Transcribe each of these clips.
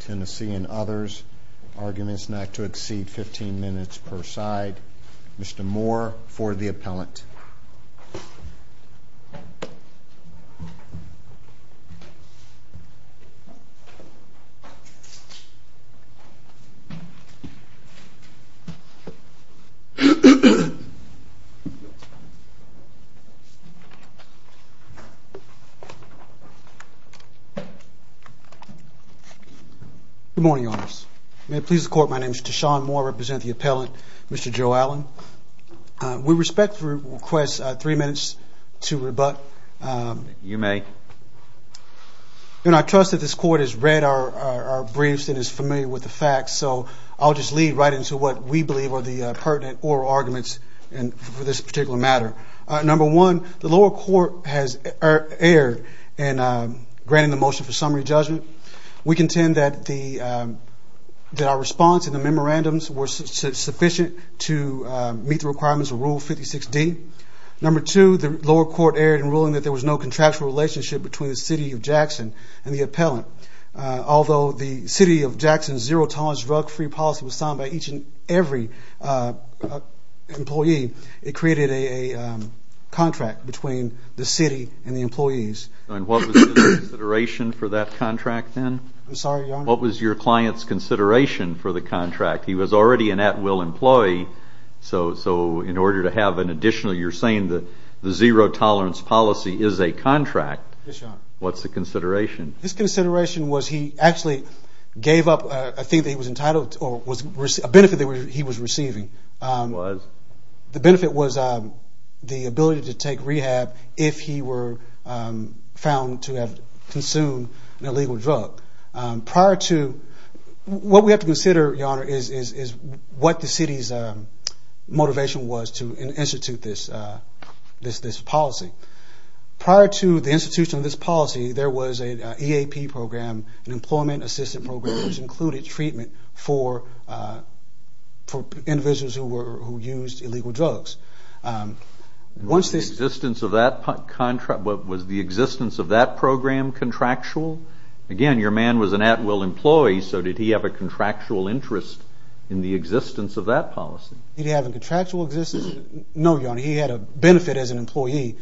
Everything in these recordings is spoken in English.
Tennessee and others. Arguments not to exceed 15 minutes per side. Mr. Moore for the appellant. Good morning, Your Honors. May it please the Court, my name is Deshaun Moore, I represent the appellant, Mr. Joe Allen. We respect the request of three minutes to rebut. You may. You know, I trust that this Court has read our briefs and is familiar with the facts, so I'll just lead right into what we believe are the pertinent oral arguments for this particular matter. Number one, the lower court has erred in granting the motion for summary judgment. We contend that our response in the memorandums were sufficient to meet the requirements of Rule 56D. Number two, the lower court erred in ruling that there was no contractual relationship between the City of Jackson and the appellant. Although the City of Jackson's zero-tolerance, drug-free policy was signed by each and every employee, it created a contract between the City and the employees. And what was the consideration for that contract then? I'm sorry, Your Honor? What was your client's consideration for the contract? He was already an at-will employee, so in order to have an additional, you're saying that the zero-tolerance policy is a contract. Yes, Your Honor. What's the consideration? His consideration was he actually gave up a thing that he was entitled to, or a benefit that he was receiving. The benefit was the ability to take rehab if he were found to have consumed an illegal drug. Prior to, what we have to consider, Your Honor, is what the City's motivation was to institute this policy. Prior to the institution of this policy, there was an EAP program, an Employment Assistance Program, which included treatment for individuals who used illegal drugs. Was the existence of that program contractual? Again, your man was an at-will employee, so did he have a contractual interest in the existence of that policy? Did he have a contractual existence? No, Your Honor. He had a benefit as an employee.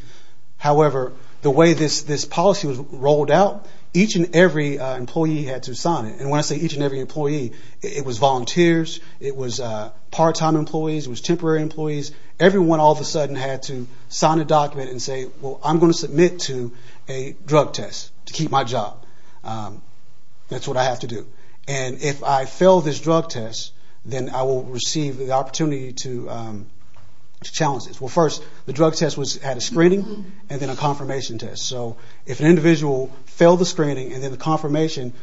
However, the way this policy was rolled out, each and every employee had to sign it. When I say each and every employee, it was volunteers, it was part-time employees, it was temporary employees. Everyone all of a sudden had to sign a document and say, well, I'm going to submit to a drug test to keep my job. That's what I have to do. And if I fail this drug test, then I will receive the opportunity to challenge this. Well, first, the drug test had a screening and then a confirmation test. So if an individual failed the screening and then the confirmation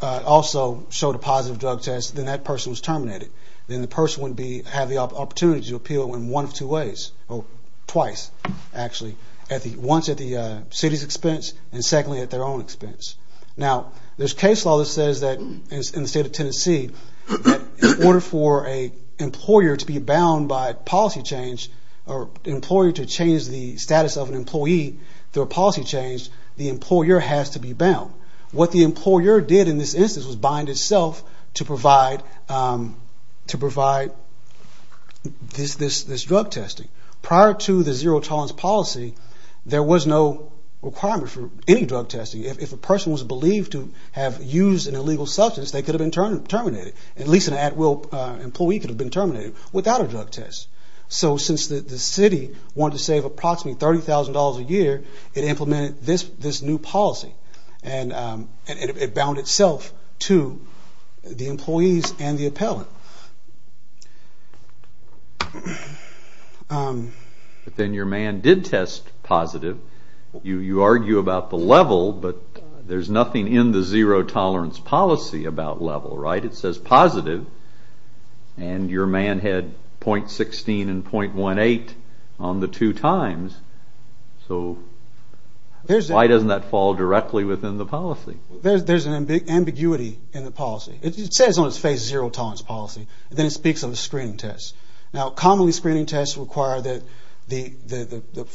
also showed a positive drug test, then that person was terminated. Then the person would have the opportunity to appeal in one of two ways, or twice, actually. Once at the City's expense and secondly at their own expense. Now, there's case law that says that in the state of Tennessee, in order for an employer to be bound by policy change, or an employer to change the status of an employee through a policy change, the employer has to be bound. What the employer did in this instance was bind itself to provide this drug testing. Prior to the zero tolerance policy, there was no requirement for any drug testing. If a person was believed to have used an illegal substance, they could have been terminated. At least an at-will employee could have been terminated without a drug test. So since the City wanted to save approximately $30,000 a year, it implemented this new policy. And it bound itself to the employees and the appellant. But then your man did test positive. You argue about the level, but there's nothing in the zero tolerance policy about level, right? It says positive, and your man had .16 and .18 on the two times. So why doesn't that fall directly within the policy? There's an ambiguity in the policy. It says on its face, zero tolerance policy, and then it speaks of a screening test. Now, commonly screening tests require that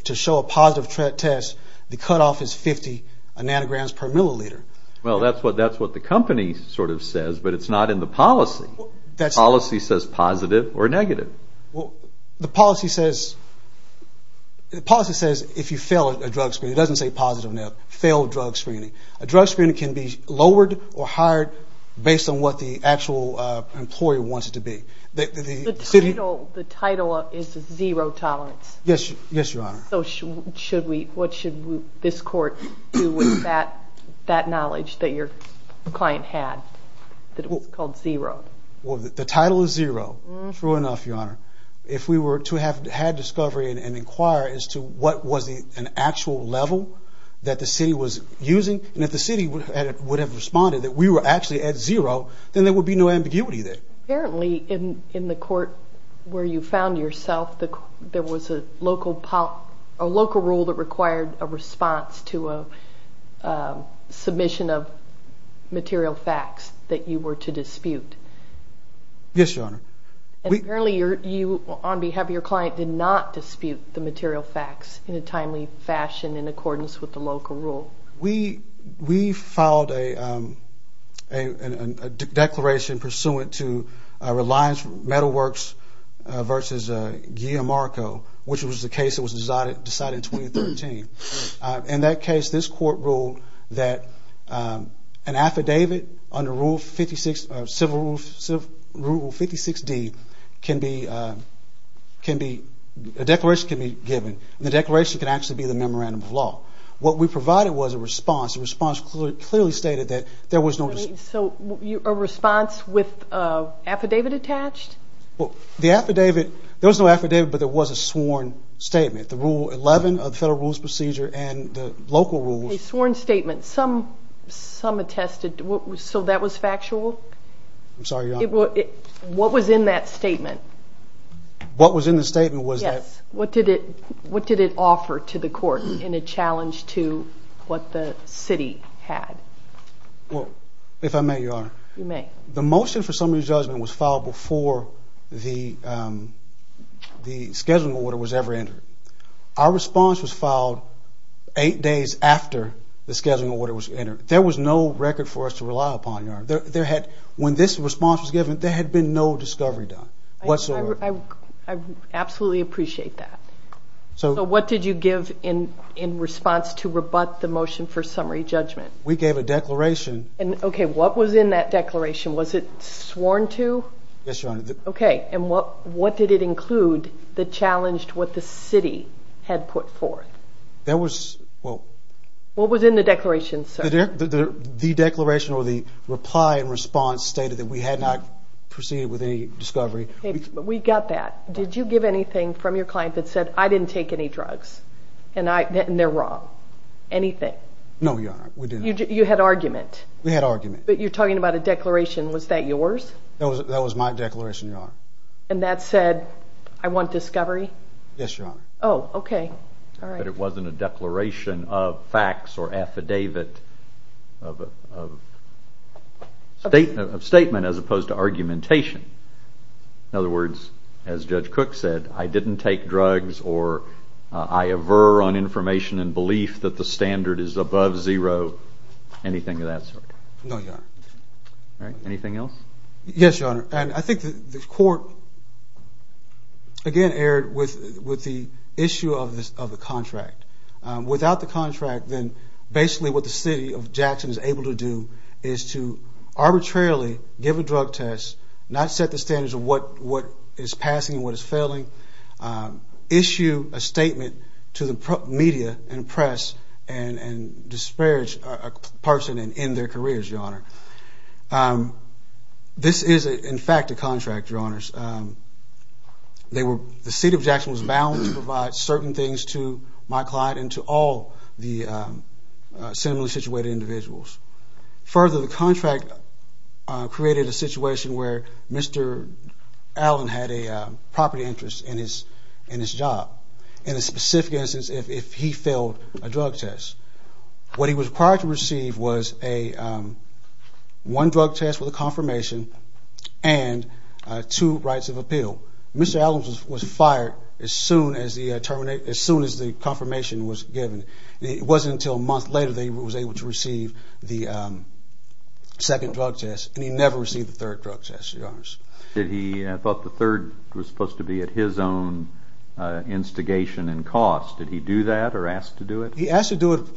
to show a positive test, the cutoff is 50 nanograms per milliliter. Well, that's what the company sort of says, but it's not in the policy. The policy says positive or negative. Well, the policy says if you fail a drug screening. It doesn't say positive or negative. Fail drug screening. A drug screening can be lowered or higher based on what the actual employer wants it to be. The title is zero tolerance. Yes, Your Honor. So what should this court do with that knowledge that your client had, that it was called zero? Well, the title is zero. True enough, Your Honor. If we were to have had discovery and inquire as to what was an actual level that the city was using, and if the city would have responded that we were actually at zero, then there would be no ambiguity there. Apparently, in the court where you found yourself, there was a local rule that required a response to a submission of material facts that you were to dispute. Yes, Your Honor. Apparently, you on behalf of your client did not dispute the material facts in a timely fashion in accordance with the local rule. We filed a declaration pursuant to Reliance Metal Works versus Guillermo Marco, which was the case that was decided in 2013. In that case, this court ruled that an affidavit under Rule 56D can be, a declaration can be given. The declaration can actually be the memorandum of law. What we provided was a response. The response clearly stated that there was no dispute. So, a response with an affidavit attached? Well, the affidavit, there was no affidavit, but there was a sworn statement. The Rule 11 of the Federal Rules Procedure and the local rules. A sworn statement. Some attested, so that was factual? I'm sorry, Your Honor. What was in that statement? What was in the statement was that? What did it offer to the court in a challenge to what the city had? Well, if I may, Your Honor. You may. The motion for summary judgment was filed before the scheduling order was ever entered. Our response was filed eight days after the scheduling order was entered. There was no record for us to rely upon, Your Honor. When this response was given, there had been no discovery done whatsoever. I absolutely appreciate that. So, what did you give in response to rebut the motion for summary judgment? We gave a declaration. And, okay, what was in that declaration? Was it sworn to? Yes, Your Honor. Okay, and what did it include that challenged what the city had put forth? That was, well. What was in the declaration, sir? The declaration or the reply and response stated that we had not proceeded with any discovery. We got that. Did you give anything from your client that said, I didn't take any drugs, and they're wrong, anything? No, Your Honor, we did not. You had argument. We had argument. But you're talking about a declaration. Was that yours? That was my declaration, Your Honor. And that said, I want discovery? Yes, Your Honor. Oh, okay, all right. But it wasn't a declaration of facts or affidavit of statement as opposed to argumentation. In other words, as Judge Cook said, I didn't take drugs or I aver on information and belief that the standard is above zero, anything of that sort? No, Your Honor. All right, anything else? Yes, Your Honor. And I think the court, again, erred with the issue of the contract. Without the contract, then basically what the city of Jackson is able to do is to arbitrarily give a drug test, not set the standards of what is passing and what is failing, issue a statement to the media and press, and disparage a person and end their careers, Your Honor. This is, in fact, a contract, Your Honors. The city of Jackson was bound to provide certain things to my client and to all the similarly situated individuals. Further, the contract created a situation where Mr. Allen had a property interest in his job. In a specific instance, if he failed a drug test, what he was required to receive was one drug test with a confirmation and two rights of appeal. Mr. Allen was fired as soon as the confirmation was given. It wasn't until a month later that he was able to receive the second drug test, and he never received the third drug test, Your Honors. He thought the third was supposed to be at his own instigation and cost. Did he do that or ask to do it? He asked to do it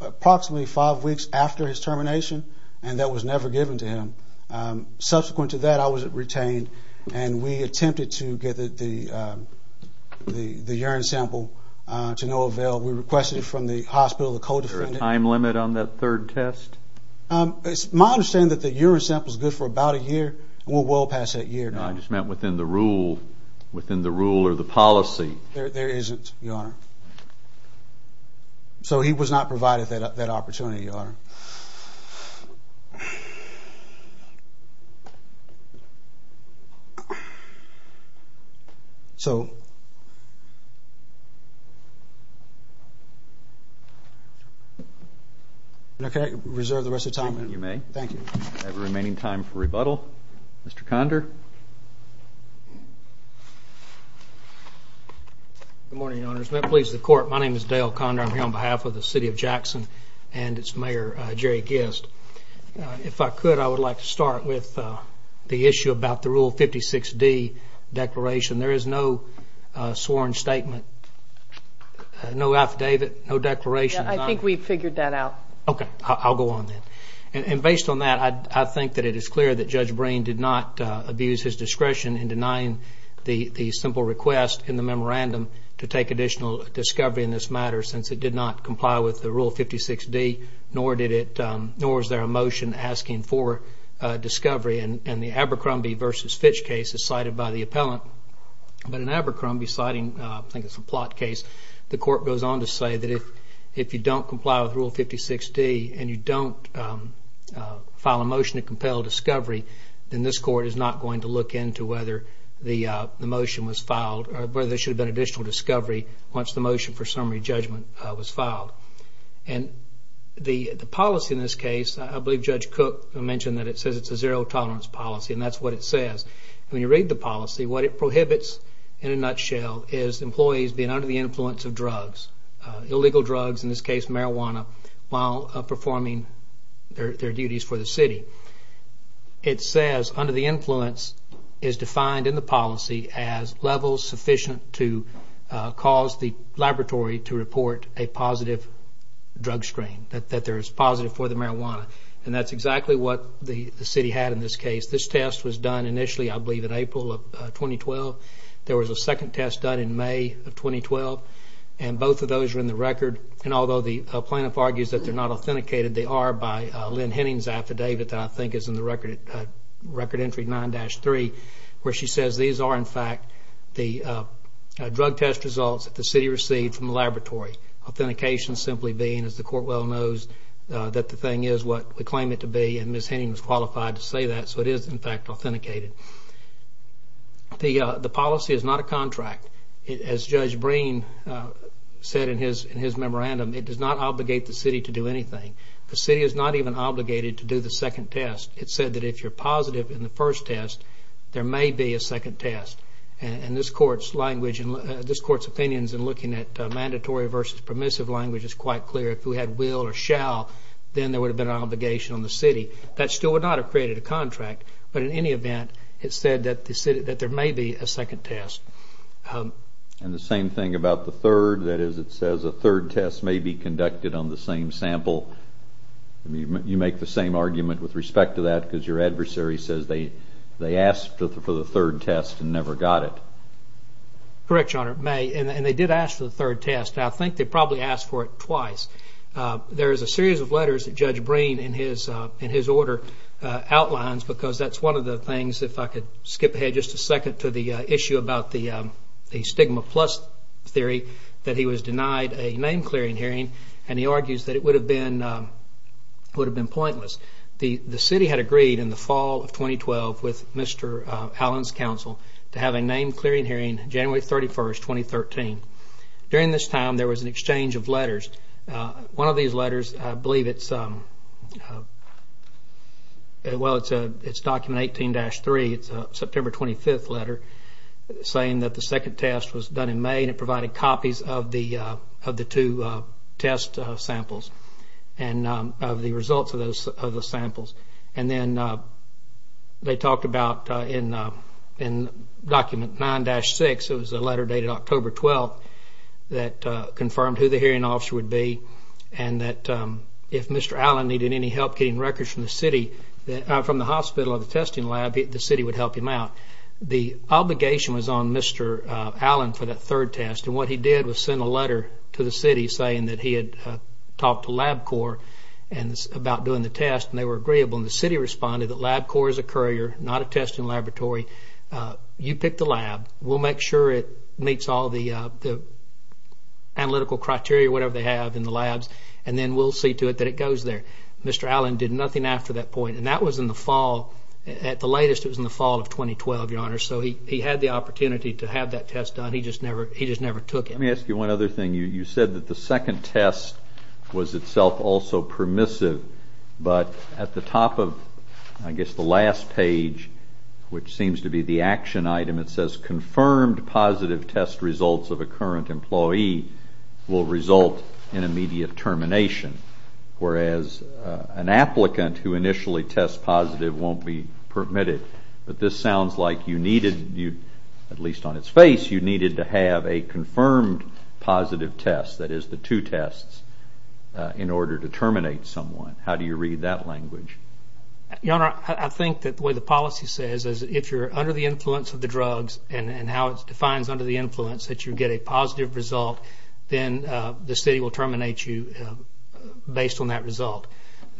approximately five weeks after his termination, and that was never given to him. Subsequent to that, I was retained, and we attempted to get the urine sample to no avail. We requested it from the hospital, the co-defendant. Is there a time limit on that third test? My understanding is that the urine sample is good for about a year, and we'll well past that year. No, I just meant within the rule or the policy. There isn't, Your Honor. So he was not provided that opportunity, Your Honor. Can I reserve the rest of the time, ma'am? You may. Thank you. We have the remaining time for rebuttal. Mr. Condor? Good morning, Your Honors. May it please the Court, my name is Dale Condor. I'm here on behalf of the city of Jackson and its mayor, Jerry Gist. If I could, I would like to start with the issue about the Rule 56D declaration. There is no sworn statement, no affidavit, no declaration. I think we've figured that out. Okay, I'll go on then. And based on that, I think that it is clear that Judge Breen did not abuse his discretion in denying the simple request in the memorandum to take additional discovery in this matter, since it did not comply with the Rule 56D, nor is there a motion asking for discovery. And the Abercrombie v. Fitch case is cited by the appellant. But in Abercrombie, citing, I think it's a plot case, the Court goes on to say that if you don't comply with Rule 56D and you don't file a motion to compel discovery, then this Court is not going to look into whether the motion was filed, or whether there should have been additional discovery once the motion for summary judgment was filed. And the policy in this case, I believe Judge Cook mentioned that it says it's a zero-tolerance policy, and that's what it says. When you read the policy, what it prohibits in a nutshell is employees being under the influence of drugs, illegal drugs, in this case marijuana, while performing their duties for the city. It says under the influence is defined in the policy as levels sufficient to cause the laboratory to report a positive drug strain, that there is positive for the marijuana. And that's exactly what the city had in this case. This test was done initially, I believe, in April of 2012. There was a second test done in May of 2012, and both of those are in the record. And although the plaintiff argues that they're not authenticated, they are by Lynn Henning's affidavit that I think is in the record entry 9-3, where she says these are, in fact, the drug test results that the city received from the laboratory. Authentication simply being, as the Court well knows, that the thing is what we claim it to be, and Ms. Henning was qualified to say that, so it is, in fact, authenticated. The policy is not a contract. As Judge Breen said in his memorandum, it does not obligate the city to do anything. The city is not even obligated to do the second test. It said that if you're positive in the first test, there may be a second test. And this Court's language and this Court's opinions in looking at mandatory versus permissive language is quite clear, if we had will or shall, then there would have been an obligation on the city. That still would not have created a contract, but in any event, it said that there may be a second test. And the same thing about the third, that is it says a third test may be conducted on the same sample. You make the same argument with respect to that because your adversary says they asked for the third test and never got it. Correct, Your Honor, it may, and they did ask for the third test. I think they probably asked for it twice. There is a series of letters that Judge Breen in his order outlines because that's one of the things, if I could skip ahead just a second to the issue about the stigma plus theory, that he was denied a name-clearing hearing and he argues that it would have been pointless. The city had agreed in the fall of 2012 with Mr. Allen's counsel to have a name-clearing hearing January 31st, 2013. During this time, there was an exchange of letters. One of these letters, I believe it's, well, it's document 18-3. It's a September 25th letter saying that the second test was done in May and it provided copies of the two test samples and of the results of the samples. And then they talked about in document 9-6, it was a letter dated October 12th, that confirmed who the hearing officer would be and that if Mr. Allen needed any help getting records from the city, from the hospital or the testing lab, the city would help him out. The obligation was on Mr. Allen for that third test and what he did was send a letter to the city saying that he had talked to LabCorp about doing the test and they were agreeable and the city responded that LabCorp is a courier, not a testing laboratory. You pick the lab. We'll make sure it meets all the analytical criteria, whatever they have in the labs, and then we'll see to it that it goes there. Mr. Allen did nothing after that point and that was in the fall, at the latest, it was in the fall of 2012, Your Honor, so he had the opportunity to have that test done. He just never took it. Let me ask you one other thing. You said that the second test was itself also permissive, but at the top of, I guess, the last page, which seems to be the action item, it says confirmed positive test results of a current employee will result in immediate termination, whereas an applicant who initially tests positive won't be permitted, but this sounds like you needed, at least on its face, you needed to have a confirmed positive test, that is the two tests, in order to terminate someone. How do you read that language? Your Honor, I think that the way the policy says is if you're under the influence of the drugs and how it defines under the influence that you get a positive result, then the city will terminate you based on that result.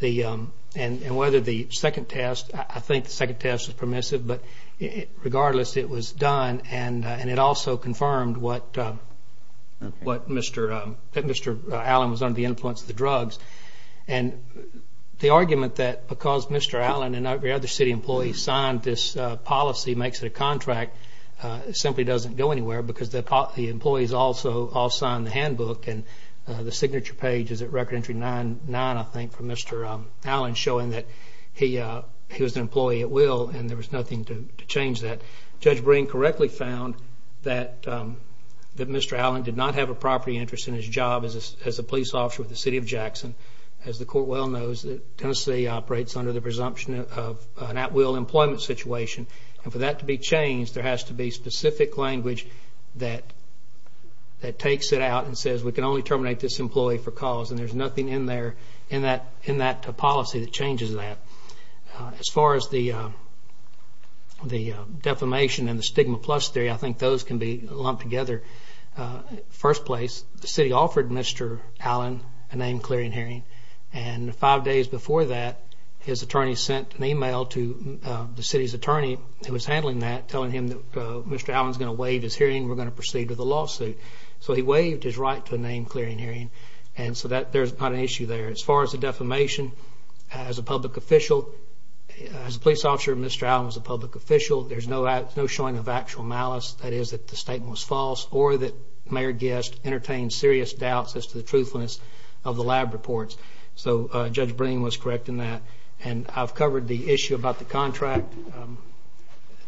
And whether the second test, I think the second test was permissive, but regardless, it was done and it also confirmed what Mr. Allen was under the influence of the drugs. And the argument that because Mr. Allen and every other city employee signed this policy makes it a contract simply doesn't go anywhere because the employees also all signed the handbook and the signature page is at record entry nine, I think, for Mr. Allen, showing that he was an employee at will and there was nothing to change that. Judge Breen correctly found that Mr. Allen did not have a property interest in his job as a police officer with the city of Jackson. As the court well knows, Tennessee operates under the presumption of an at-will employment situation and for that to be changed, there has to be specific language that takes it out and says, we can only terminate this employee for cause and there's nothing in that policy that changes that. As far as the defamation and the stigma plus theory, I think those can be lumped together. First place, the city offered Mr. Allen a name-clearing hearing and five days before that, his attorney sent an email to the city's attorney who was handling that, telling him that Mr. Allen's gonna waive his hearing, we're gonna proceed with a lawsuit. So he waived his right to a name-clearing hearing and so there's not an issue there. As far as the defamation, as a public official, as a police officer, Mr. Allen was a public official. There's no showing of actual malice, that is that the statement was false or that Mayor Guest entertained serious doubts as to the truthfulness of the lab reports. So Judge Breen was correct in that and I've covered the issue about the contract.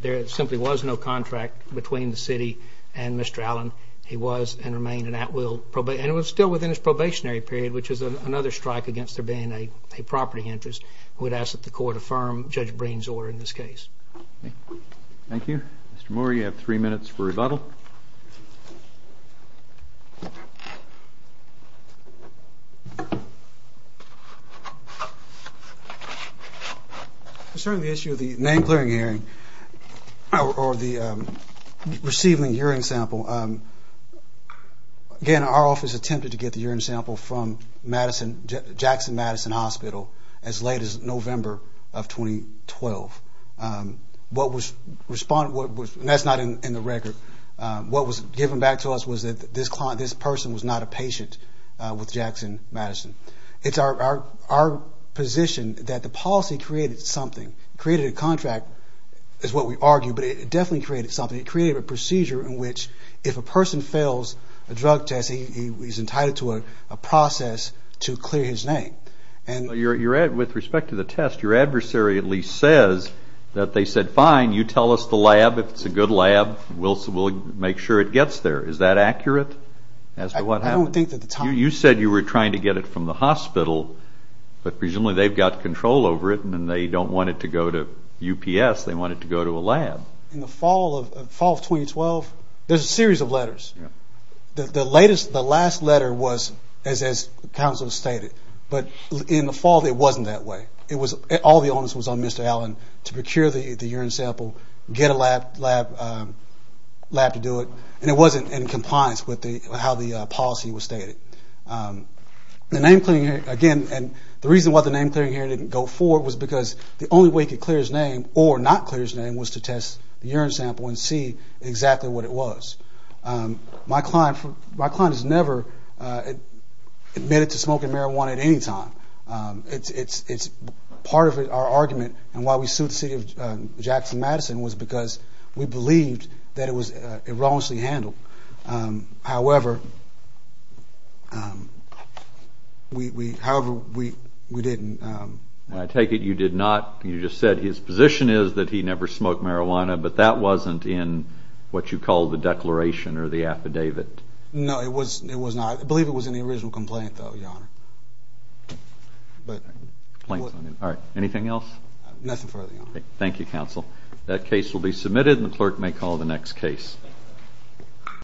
There simply was no contract between the city and Mr. Allen. He was and remained an at-will, and it was still within his probationary period, which is another strike against there being a property interest. We'd ask that the court affirm Judge Breen's order in this case. Thank you. Mr. Moore, you have three minutes for rebuttal. Thank you. Concerning the issue of the name-clearing hearing or the receiving hearing sample, again, our office attempted to get the hearing sample from Jackson Madison Hospital as late as November of 2012. What was responded, and that's not in the record, what was given back to us was that this person was not a patient with Jackson Madison. It's our position that the policy created something, created a contract, is what we argue, but it definitely created something. It created a procedure in which if a person fails a drug test, he's entitled to a process to clear his name. With respect to the test, your adversary at least says that they said, fine, you tell us the lab, if it's a good lab, we'll make sure it gets there. Is that accurate as to what happened? I don't think at the time. You said you were trying to get it from the hospital, but presumably they've got control over it and they don't want it to go to UPS, they want it to go to a lab. In the fall of 2012, there's a series of letters. The last letter was, as counsel stated, but in the fall, it wasn't that way. All the onus was on Mr. Allen to procure the urine sample, get a lab to do it, and it wasn't in compliance with how the policy was stated. The name-clearing hearing, again, and the reason why the name-clearing hearing didn't go forward was because the only way he could clear his name or not clear his name was to test the urine sample and see exactly what it was. My client has never admitted to smoking marijuana at any time. It's part of our argument, and why we sued the city of Jackson-Madison was because we believed that it was erroneously handled. However, we didn't. I take it you did not, you just said his position is that he never smoked marijuana, but that wasn't in what you call the declaration or the affidavit. No, it was not. I believe it was in the original complaint, though, Your Honor. All right, anything else? Nothing further, Your Honor. Okay, thank you, counsel. That case will be submitted, and the clerk may call the next case.